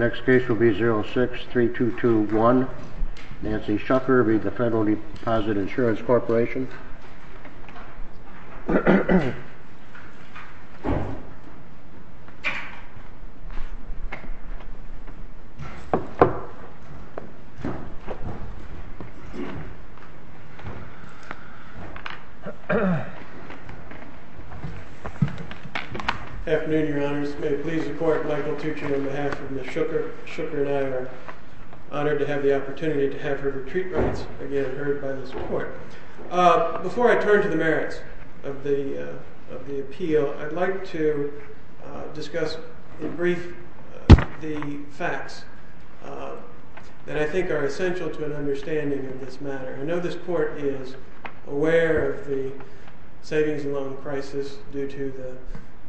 06-3221 Nancy Shucker v. FDIC 06-3221 Nancy Shucker v. FDIC Before I turn to the merits of the appeal, I'd like to discuss in brief the facts that I think are essential to an understanding of this matter. I know this court is aware of the savings and loan crisis due to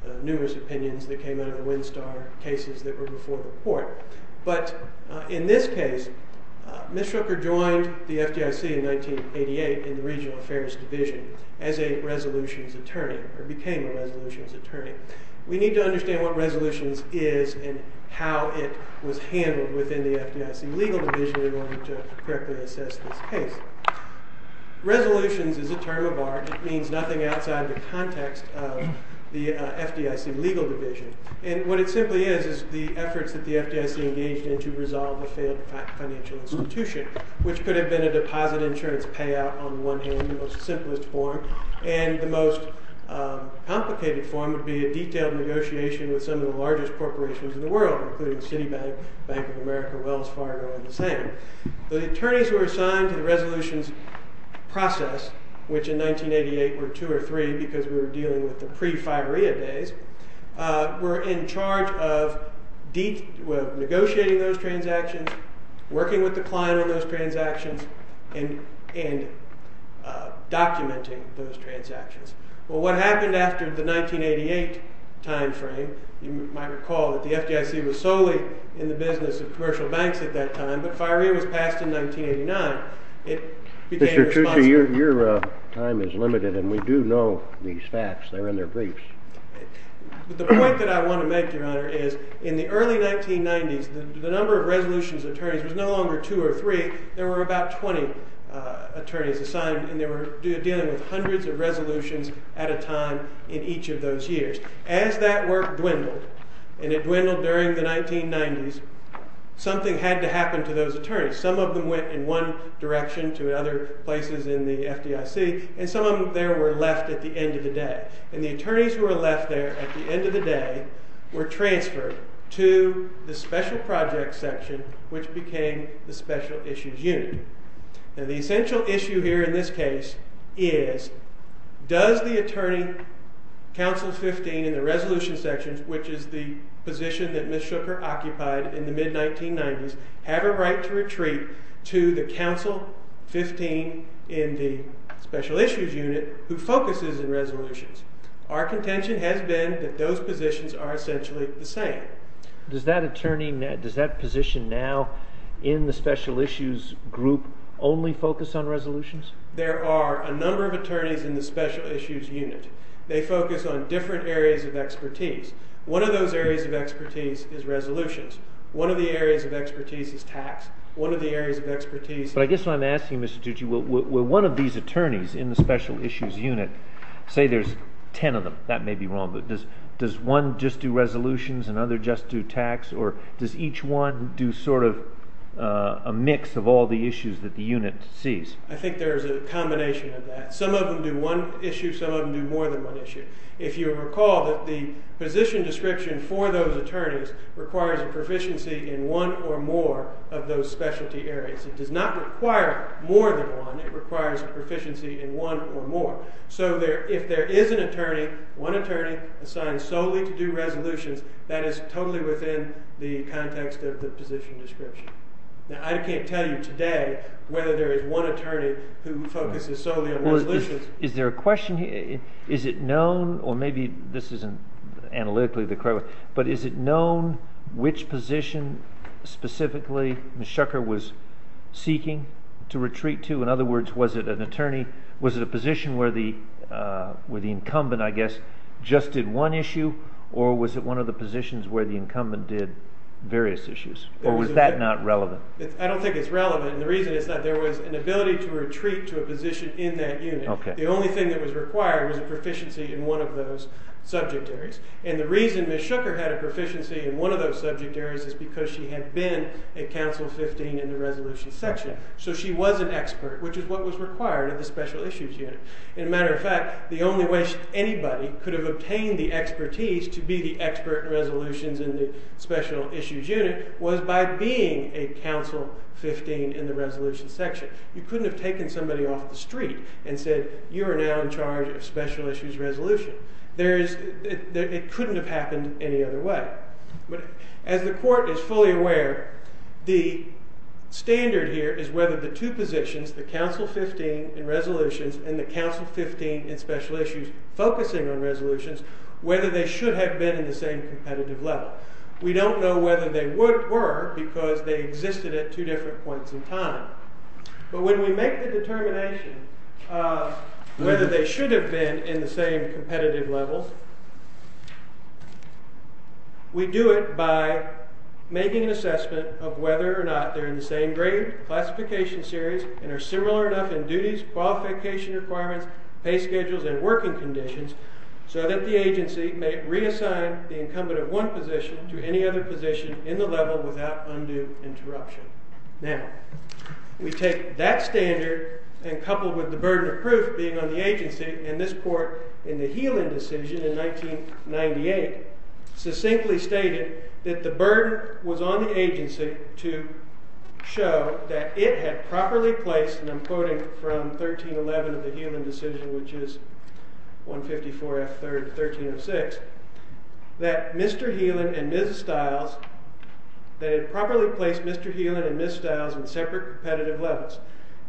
the numerous opinions that came out of the Windstar cases that were before the court. But in this case, Ms. Shucker joined the FDIC in 1988 in the Regional Affairs Division as a resolutions attorney, or became a resolutions attorney. We need to understand what resolutions is and how it was handled within the FDIC legal division in order to correctly assess this case. Resolutions is a term of art. It means nothing outside the context of the FDIC legal division. And what it simply is is the efforts that the FDIC engaged in to resolve a failed financial institution, which could have been a deposit insurance payout on one hand, the most simplest form. And the most complicated form would be a detailed negotiation with some of the largest corporations in the world, including Citibank, Bank of America, Wells Fargo, and the same. The attorneys who were assigned to the resolutions process, which in 1988 were two or three because we were dealing with the pre-FIREA days, were in charge of negotiating those transactions, working with the client on those transactions, and documenting those transactions. Well, what happened after the 1988 time frame, you might recall that the FDIC was solely in the business of commercial banks at that time, but FIREA was passed in 1989. It became responsible for that. Mr. Choochoo, your time is limited, and we do know these facts. They're in their briefs. The point that I want to make, Your Honor, is in the early 1990s, the number of resolutions attorneys was no longer two or three. There were about 20 attorneys assigned, and they were dealing with hundreds of resolutions at a time in each of those years. As that work dwindled, and it dwindled during the 1990s, something had to happen to those attorneys. Some of them went in one direction to other places in the FDIC, and some of them there were left at the end of the day. And the attorneys who were left there at the end of the day were transferred to the special project section, which became the special issues unit. Now, the essential issue here in this case is does the attorney, counsel 15 in the resolution section, which is the position that Ms. Shooker occupied in the mid-1990s, have a right to retreat to the counsel 15 in the special issues unit who focuses in resolutions? Our contention has been that those positions are essentially the same. Does that attorney, does that position now in the special issues group only focus on resolutions? There are a number of attorneys in the special issues unit. They focus on different areas of expertise. One of those areas of expertise is resolutions. One of the areas of expertise is tax. One of the areas of expertise- But I guess what I'm asking, Mr. Tucci, will one of these attorneys in the special issues unit, say there's 10 of them, that may be wrong, does one just do resolutions and other just do tax, or does each one do sort of a mix of all the issues that the unit sees? I think there's a combination of that. Some of them do one issue, some of them do more than one issue. If you recall that the position description for those attorneys requires a proficiency in one or more of those specialty areas. It does not require more than one. It requires a proficiency in one or more. So if there is an attorney, one attorney assigned solely to do resolutions, that is totally within the context of the position description. Now, I can't tell you today whether there is one attorney who focuses solely on resolutions. Is there a question here, is it known, or maybe this isn't analytically the correct way, but is it known which position specifically Ms. Shucker was seeking to retreat to? In other words, was it an attorney, was it a position where the incumbent, I guess, just did one issue, or was it one of the positions where the incumbent did various issues? Or was that not relevant? I don't think it's relevant, and the reason is that there was an ability to retreat to a position in that unit. The only thing that was required was a proficiency in one of those subject areas. And the reason Ms. Shucker had a proficiency in one of those subject areas is because she had been at Council 15 in the resolution section. So she was an expert, which is what was required of the Special Issues Unit. And a matter of fact, the only way anybody could have obtained the expertise to be the expert in resolutions in the Special Issues Unit was by being a Council 15 in the resolution section. You couldn't have taken somebody off the street and said, you are now in charge of Special Issues Resolution. It couldn't have happened any other way. But as the court is fully aware, the standard here is whether the two positions, the Council 15 in resolutions and the Council 15 in Special Issues focusing on resolutions, whether they should have been in the same competitive level. We don't know whether they were because they existed at two different points in time. But when we make the determination whether they should have been in the same competitive level, we do it by making an assessment of whether or not they're in the same grade, classification series, and are similar enough in duties, qualification requirements, pay schedules, and working conditions so that the agency may reassign the incumbent of one position to any other position in the level without undue interruption. Now, we take that standard and coupled with the burden of proof being on the agency and this court in the Heelan decision in 1998, succinctly stated that the burden was on the agency to show that it had properly placed, and I'm quoting from 1311 of the Heelan decision, which is 154F3rd1306, that Mr. Heelan and Ms. Stiles, they had properly placed Mr. Heelan and Ms. Stiles in separate competitive levels.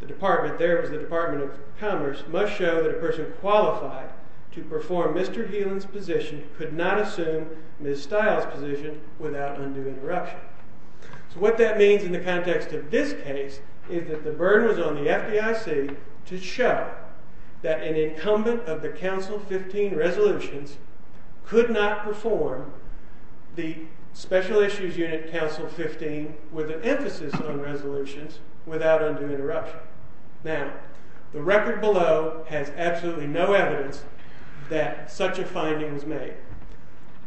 The department there was the Department of Commerce must show that a person qualified to perform Mr. Heelan's position could not assume Ms. Stiles' position without undue interruption. So what that means in the context of this case is that the burden was on the FDIC to show that an incumbent of the Council 15 resolutions could not perform the Special Issues Unit Council 15 with an emphasis on resolutions without undue interruption. Now, the record below has absolutely no evidence that such a finding was made.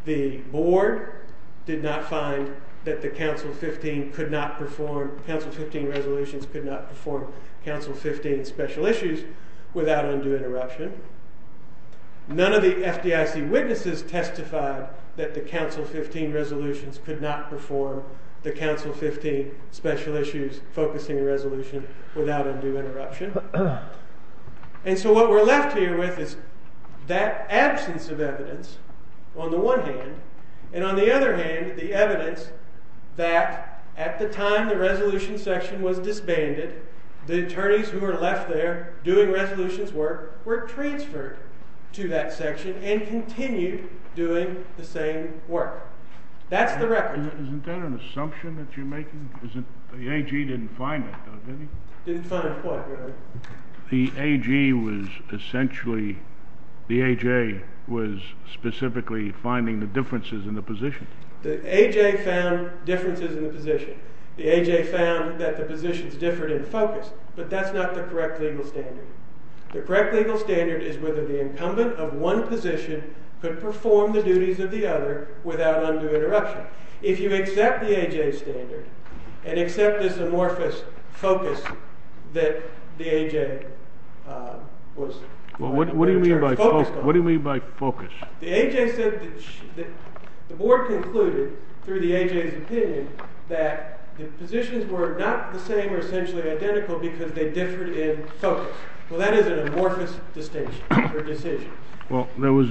The board did not find that the Council 15 could not perform, Council 15 resolutions could not perform Council 15 special issues without undue interruption. None of the FDIC witnesses testified that the Council 15 resolutions could not perform the Council 15 special issues focusing resolution without undue interruption. And so what we're left here with is that absence of evidence on the one hand, and on the other hand, the evidence that at the time the resolution section was disbanded, the attorneys who were left there doing resolutions work were transferred to that section and continued doing the same work. That's the record. Isn't that an assumption that you're making? Didn't find what, Your Honor? The AG was essentially, the AJ was specifically finding the differences in the position. The AJ found differences in the position. The AJ found that the positions differed in focus, but that's not the correct legal standard. The correct legal standard is whether the incumbent of one position could perform the duties of the other without undue interruption. If you accept the AJ's standard, and accept this amorphous focus that the AJ was focused on. What do you mean by focus? The AJ said that, the board concluded through the AJ's opinion that the positions were not the same or essentially identical because they differed in focus. Well, that is an amorphous distinction or decision. Well, there was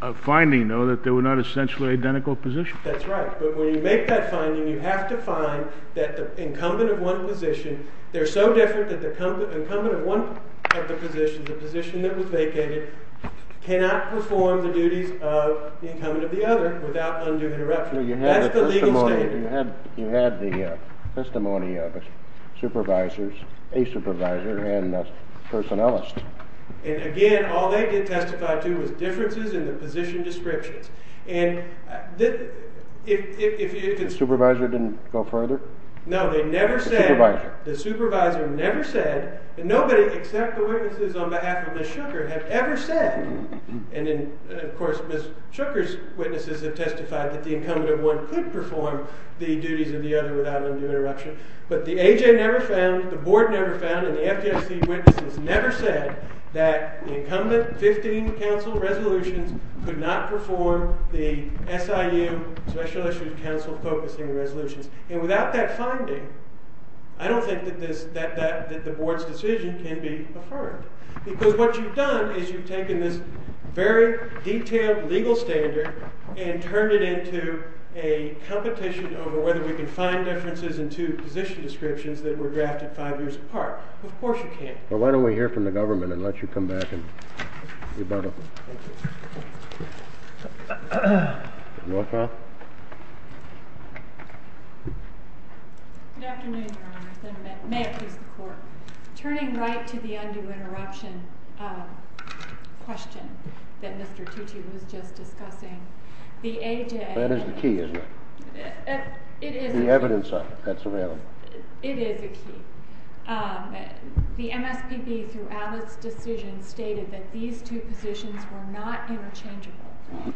a finding, though, that they were not essentially identical positions. That's right, but when you make that finding, you have to find that the incumbent of one position, they're so different that the incumbent of one of the positions, the position that was vacated, cannot perform the duties of the incumbent of the other without undue interruption. That's the legal standard. You had the testimony of supervisors, a supervisor, and a personnelist. And again, all they did testify to was differences in the position descriptions. The supervisor didn't go further? No, they never said, the supervisor never said, and nobody except the witnesses on behalf of Ms. Shooker have ever said, and then, of course, Ms. Shooker's witnesses have testified that the incumbent of one could perform the duties of the other without undue interruption, but the AJ never found, the board never found, and the FDIC witnesses never said that the incumbent 15 council resolutions could not perform the SIU, Special Issues Council focusing resolutions. And without that finding, I don't think that the board's decision can be affirmed. Because what you've done is you've taken this very detailed legal standard and turned it into a competition over whether we can find differences in two position descriptions that were drafted five years apart. Of course you can't. Well, why don't we hear from the government and let you come back and rebuttal? Thank you. Good afternoon, Your Honor, and may it please the court. Turning right to the undue interruption question that Mr. Tucci was just discussing, the AJ. That is the key, isn't it? The evidence of it. That's the real one. It is a key. The MSPB, through Alice's decision, stated that these two positions were not interchangeable.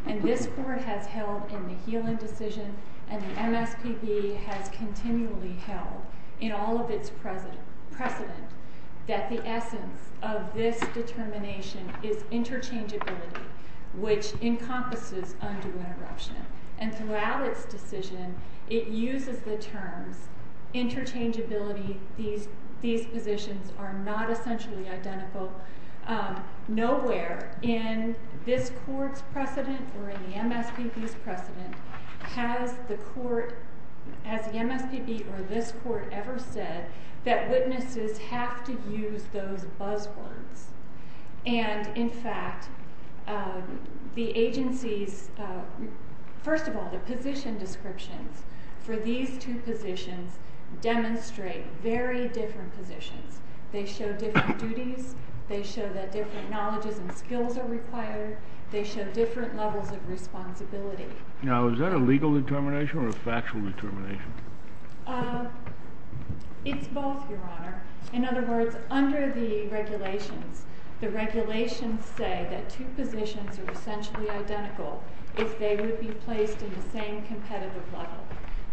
And this court has held in the Healand decision and the MSPB has continually held in all of its precedent that the essence of this determination is interchangeability, which encompasses undue interruption. And throughout its decision, it uses the terms interchangeability, these positions are not essentially identical. Nowhere in this court's precedent or in the MSPB's precedent has the MSPB or this court ever said that witnesses have to use those buzzwords. And in fact, the agency's, first of all, the position descriptions for these two positions demonstrate very different positions. They show different duties. They show that different knowledges and skills are required. They show different levels of responsibility. Now, is that a legal determination or a factual determination? It's both, Your Honor. In other words, under the regulations, the regulations say that two positions are essentially identical if they would be placed in the same competitive level.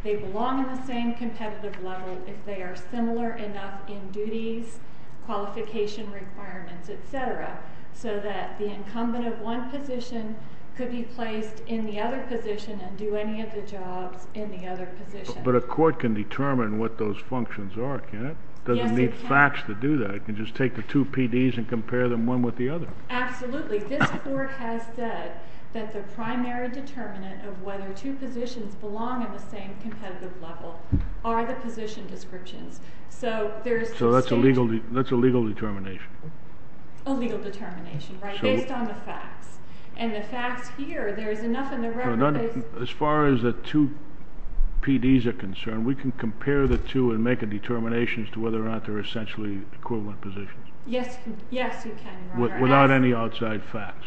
They belong in the same competitive level if they are similar enough in duties, qualification requirements, et cetera, so that the incumbent of one position could be placed in the other position and do any of the jobs in the other position. But a court can determine what those functions are, can't it? Doesn't need facts to do that. It can just take the two PDs and compare them one with the other. Absolutely. This court has said that the primary determinant of whether two positions belong in the same competitive level are the position descriptions. So there's the station. So that's a legal determination. A legal determination, right, based on the facts. And the facts here, there is enough in the record that they As far as the two PDs are concerned, we can compare the two and make a determination as to whether or not they're essentially equivalent positions. Yes. Yes, you can, Your Honor. Without any outside facts.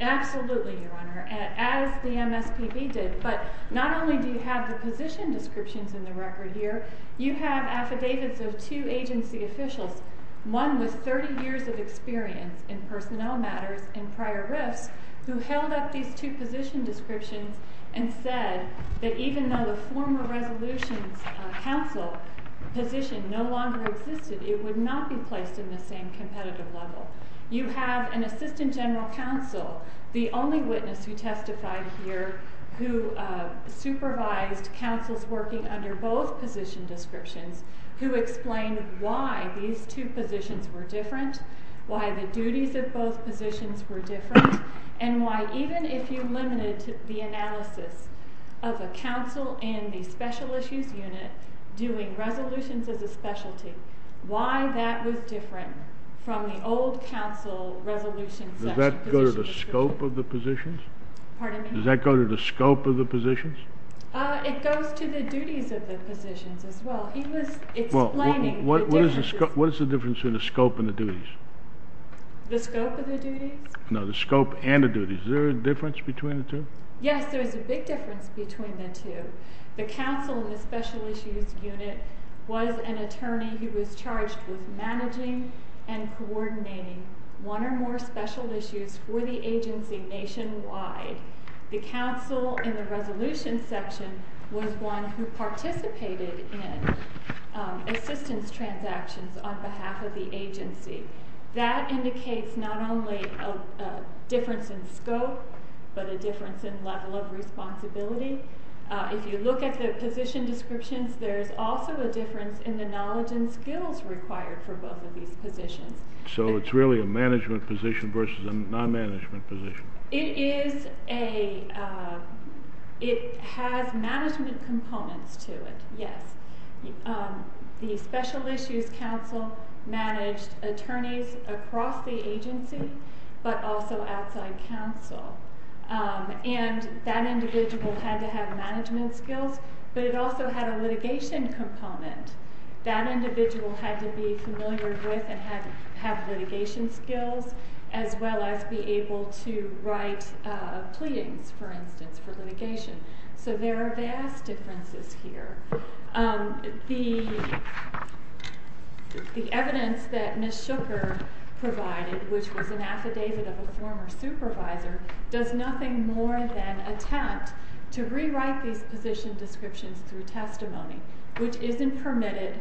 Absolutely, Your Honor. As the MSPB did, but not only do you have the position descriptions in the record here, you have affidavits of two agency officials. One with 30 years of experience in personnel matters in prior rifts who held up these two position descriptions and said that even though the former resolution's council position no longer existed, it would not be placed in the same competitive level. You have an assistant general counsel, the only witness who testified here, who supervised counsels working under both position descriptions, who explained why these two positions were different, why the duties of both positions were different, and why even if you limited the analysis of a counsel in the special issues unit doing resolutions as a specialty, section positions. Does that go to the scope of the positions? Pardon me? Does that go to the scope of the positions? It goes to the duties of the positions as well. He was explaining the differences. What is the difference between the scope and the duties? The scope of the duties? No, the scope and the duties. Is there a difference between the two? Yes, there is a big difference between the two. The counsel in the special issues unit was an attorney who was charged with managing and coordinating one or more special issues for the agency nationwide. The counsel in the resolution section was one who participated in assistance transactions on behalf of the agency. That indicates not only a difference in scope, but a difference in level of responsibility. If you look at the position descriptions, there is also a difference in the knowledge and skills required for both of these positions. So it's really a management position versus a non-management position. It is a, it has management components to it, yes. The special issues counsel managed attorneys across the agency, but also outside counsel. And that individual had to have management skills, but it also had a litigation component. That individual had to be familiar with and have litigation skills, as well as be able to write pleadings, for instance, for litigation. So there are vast differences here. The evidence that Ms. Shooker provided, which was an affidavit of a former supervisor, does nothing more than attempt to rewrite these position descriptions through testimony, which isn't permitted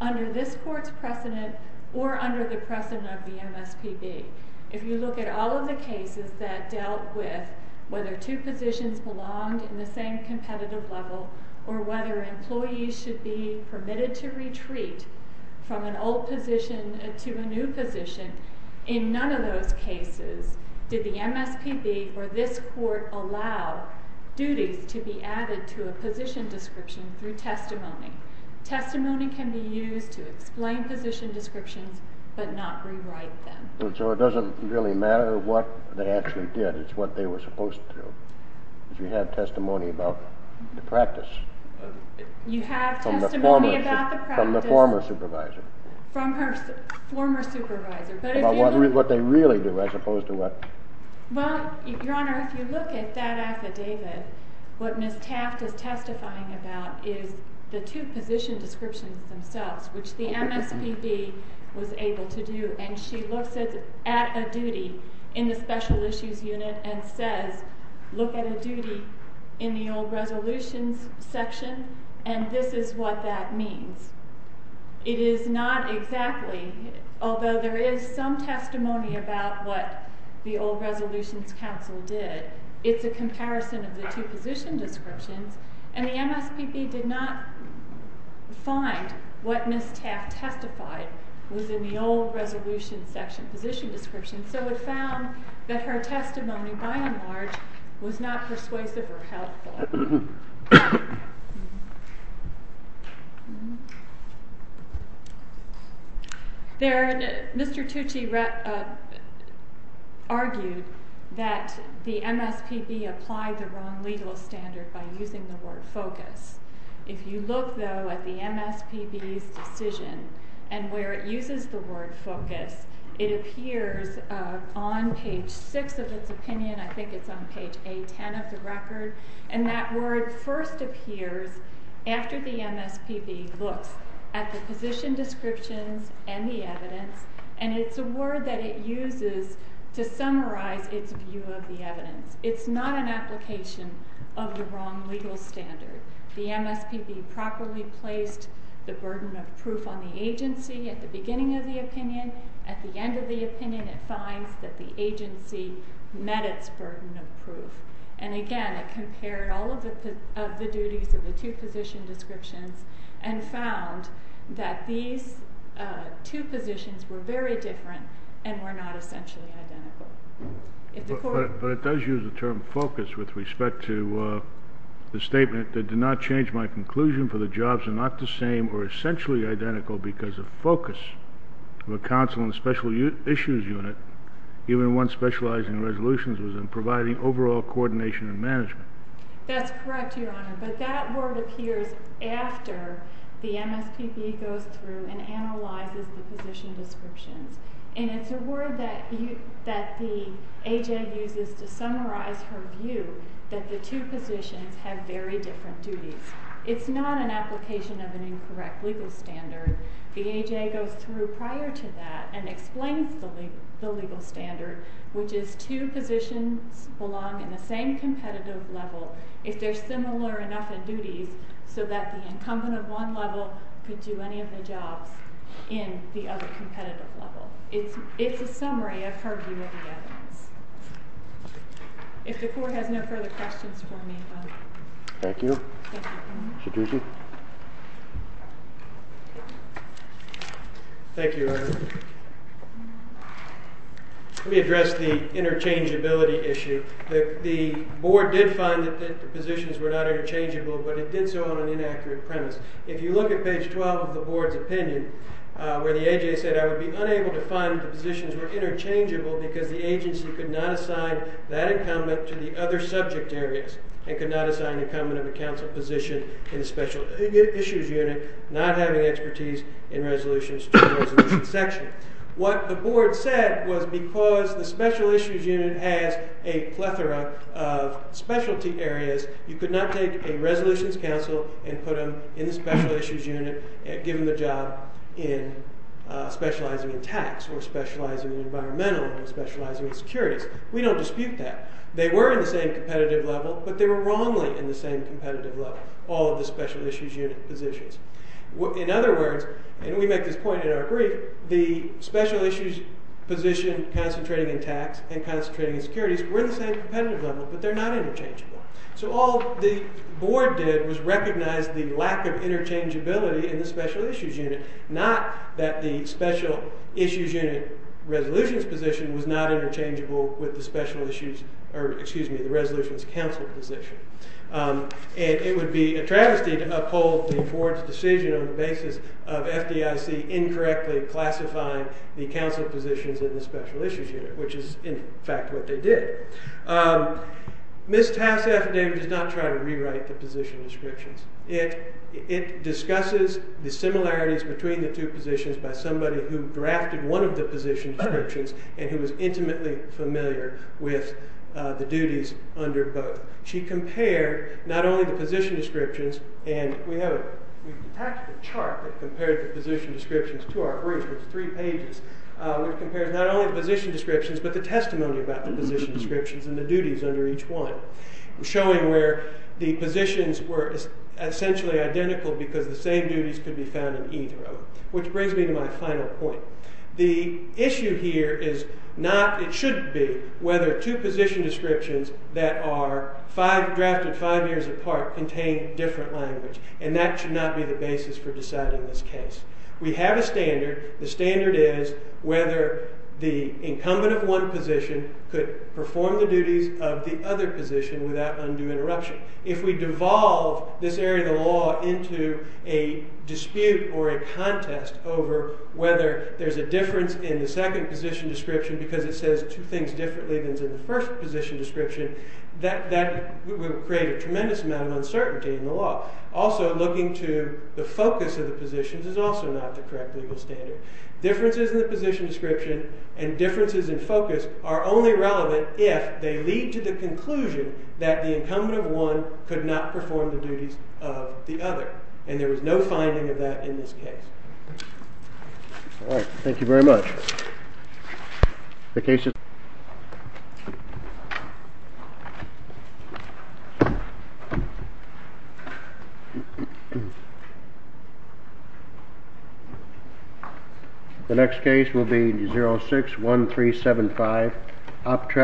under this court's precedent or under the precedent of the MSPB. If you look at all of the cases that dealt with whether two positions belonged in the same competitive level, or whether employees should be permitted to retreat from an old position to a new position, in none of those cases did the MSPB or this court allow duties to be added to a position description through testimony. Testimony can be used to explain position descriptions, but not rewrite them. So it doesn't really matter what they actually did. It's what they were supposed to. You have testimony about the practice. You have testimony about the practice. From the former supervisor. From her former supervisor. What they really do, as opposed to what? Well, Your Honor, if you look at that affidavit, what Ms. Taft is testifying about is the two position descriptions themselves, which the MSPB was able to do. And she looks at a duty in the special issues unit and says, look at a duty in the old resolutions section, and this is what that means. It is not exactly, although there is some testimony about what the old resolutions council did, it's a comparison of the two position descriptions. And the MSPB did not find what Ms. Taft testified was in the old resolution section position description. So it found that her testimony, by and large, was not persuasive or helpful. Thank you. Mr. Tucci argued that the MSPB applied the wrong legal standard by using the word focus. If you look, though, at the MSPB's decision and where it uses the word focus, it appears on page six of its opinion. I think it's on page A10 of the record. And that word first appears after the MSPB looks at the position descriptions and the evidence. And it's a word that it uses to summarize its view of the evidence. It's not an application of the wrong legal standard. The MSPB properly placed the burden of proof on the agency at the beginning of the opinion. At the end of the opinion, it finds that the agency met its burden of proof. And again, it compared all of the duties of the two position descriptions and found that these two positions were very different and were not essentially identical. But it does use the term focus with respect to the statement that did not change my conclusion for the jobs are not the same or essentially identical because of focus of a counsel and special issues unit, even when specializing resolutions and providing overall coordination and management. That's correct, Your Honor. But that word appears after the MSPB goes through and analyzes the position descriptions. And it's a word that the AJ uses to summarize her view that the two positions have very different duties. It's not an application of an incorrect legal standard. The AJ goes through prior to that and explains the legal standard, which is two positions belong in the same competitive level if they're similar enough in duties so that the incumbent of one level could do any of the jobs in the other competitive level. It's a summary of her view of the evidence. If the court has no further questions for me, I'm done. Thank you. Mr. Ducey. Thank you, Your Honor. Let me address the interchangeability issue. The board did find that the positions were not interchangeable, but it did so on an inaccurate premise. If you look at page 12 of the board's opinion, where the AJ said, I would be unable to find that the positions were interchangeable because the agency could not assign that incumbent to the other subject areas and could not assign the incumbent of a counsel position in the special issues unit, not having expertise in resolutions to the resolution section. What the board said was because the special issues unit has a plethora of specialty areas, you could not take a resolutions counsel and put them in the special issues unit and give them the job in specializing in tax or specializing in environmental or specializing in securities. We don't dispute that. They were in the same competitive level, but they were wrongly in the same competitive level, all of the special issues unit positions. In other words, and we make this point in our brief, the special issues position concentrating in tax and concentrating in securities were in the same competitive level, but they're not interchangeable. So all the board did was recognize the lack of interchangeability in the special issues unit, not that the special issues unit resolutions position was not interchangeable with the special issues, or excuse me, the resolutions counsel position. And it would be a travesty to uphold the board's decision on the basis of FDIC incorrectly classifying the counsel positions in the special issues unit, which is, in fact, what they did. Ms. Tass affidavit does not try to rewrite the position descriptions. It discusses the similarities between the two positions by somebody who drafted one of the position descriptions and who was intimately familiar with the duties under both. She compared not only the position descriptions, and we have a chart that compared the position descriptions to our brief, which is three pages, which compares not only the position descriptions, but the testimony about the position descriptions and the duties under each one, showing where the positions were essentially identical because the same duties could be found in either of them, which brings me to my final point. The issue here is not, it shouldn't be, whether two position descriptions that are drafted five years apart contain different language. And that should not be the basis for deciding this case. We have a standard. The standard is whether the incumbent of one position could perform the duties of the other position without undue interruption. If we devolve this area of the law into a dispute or a contest over whether there's a difference in the second position description because it says two things differently than is in the first position description, that will create a tremendous amount of uncertainty in the law. Also, looking to the focus of the positions is also not the correct legal standard. Differences in the position description and differences in focus are only relevant if they lead to the conclusion that the incumbent of one could not perform the duties of the other. And there was no finding of that in this case. All right. Thank you very much. The next case will be 06-1375. Optract.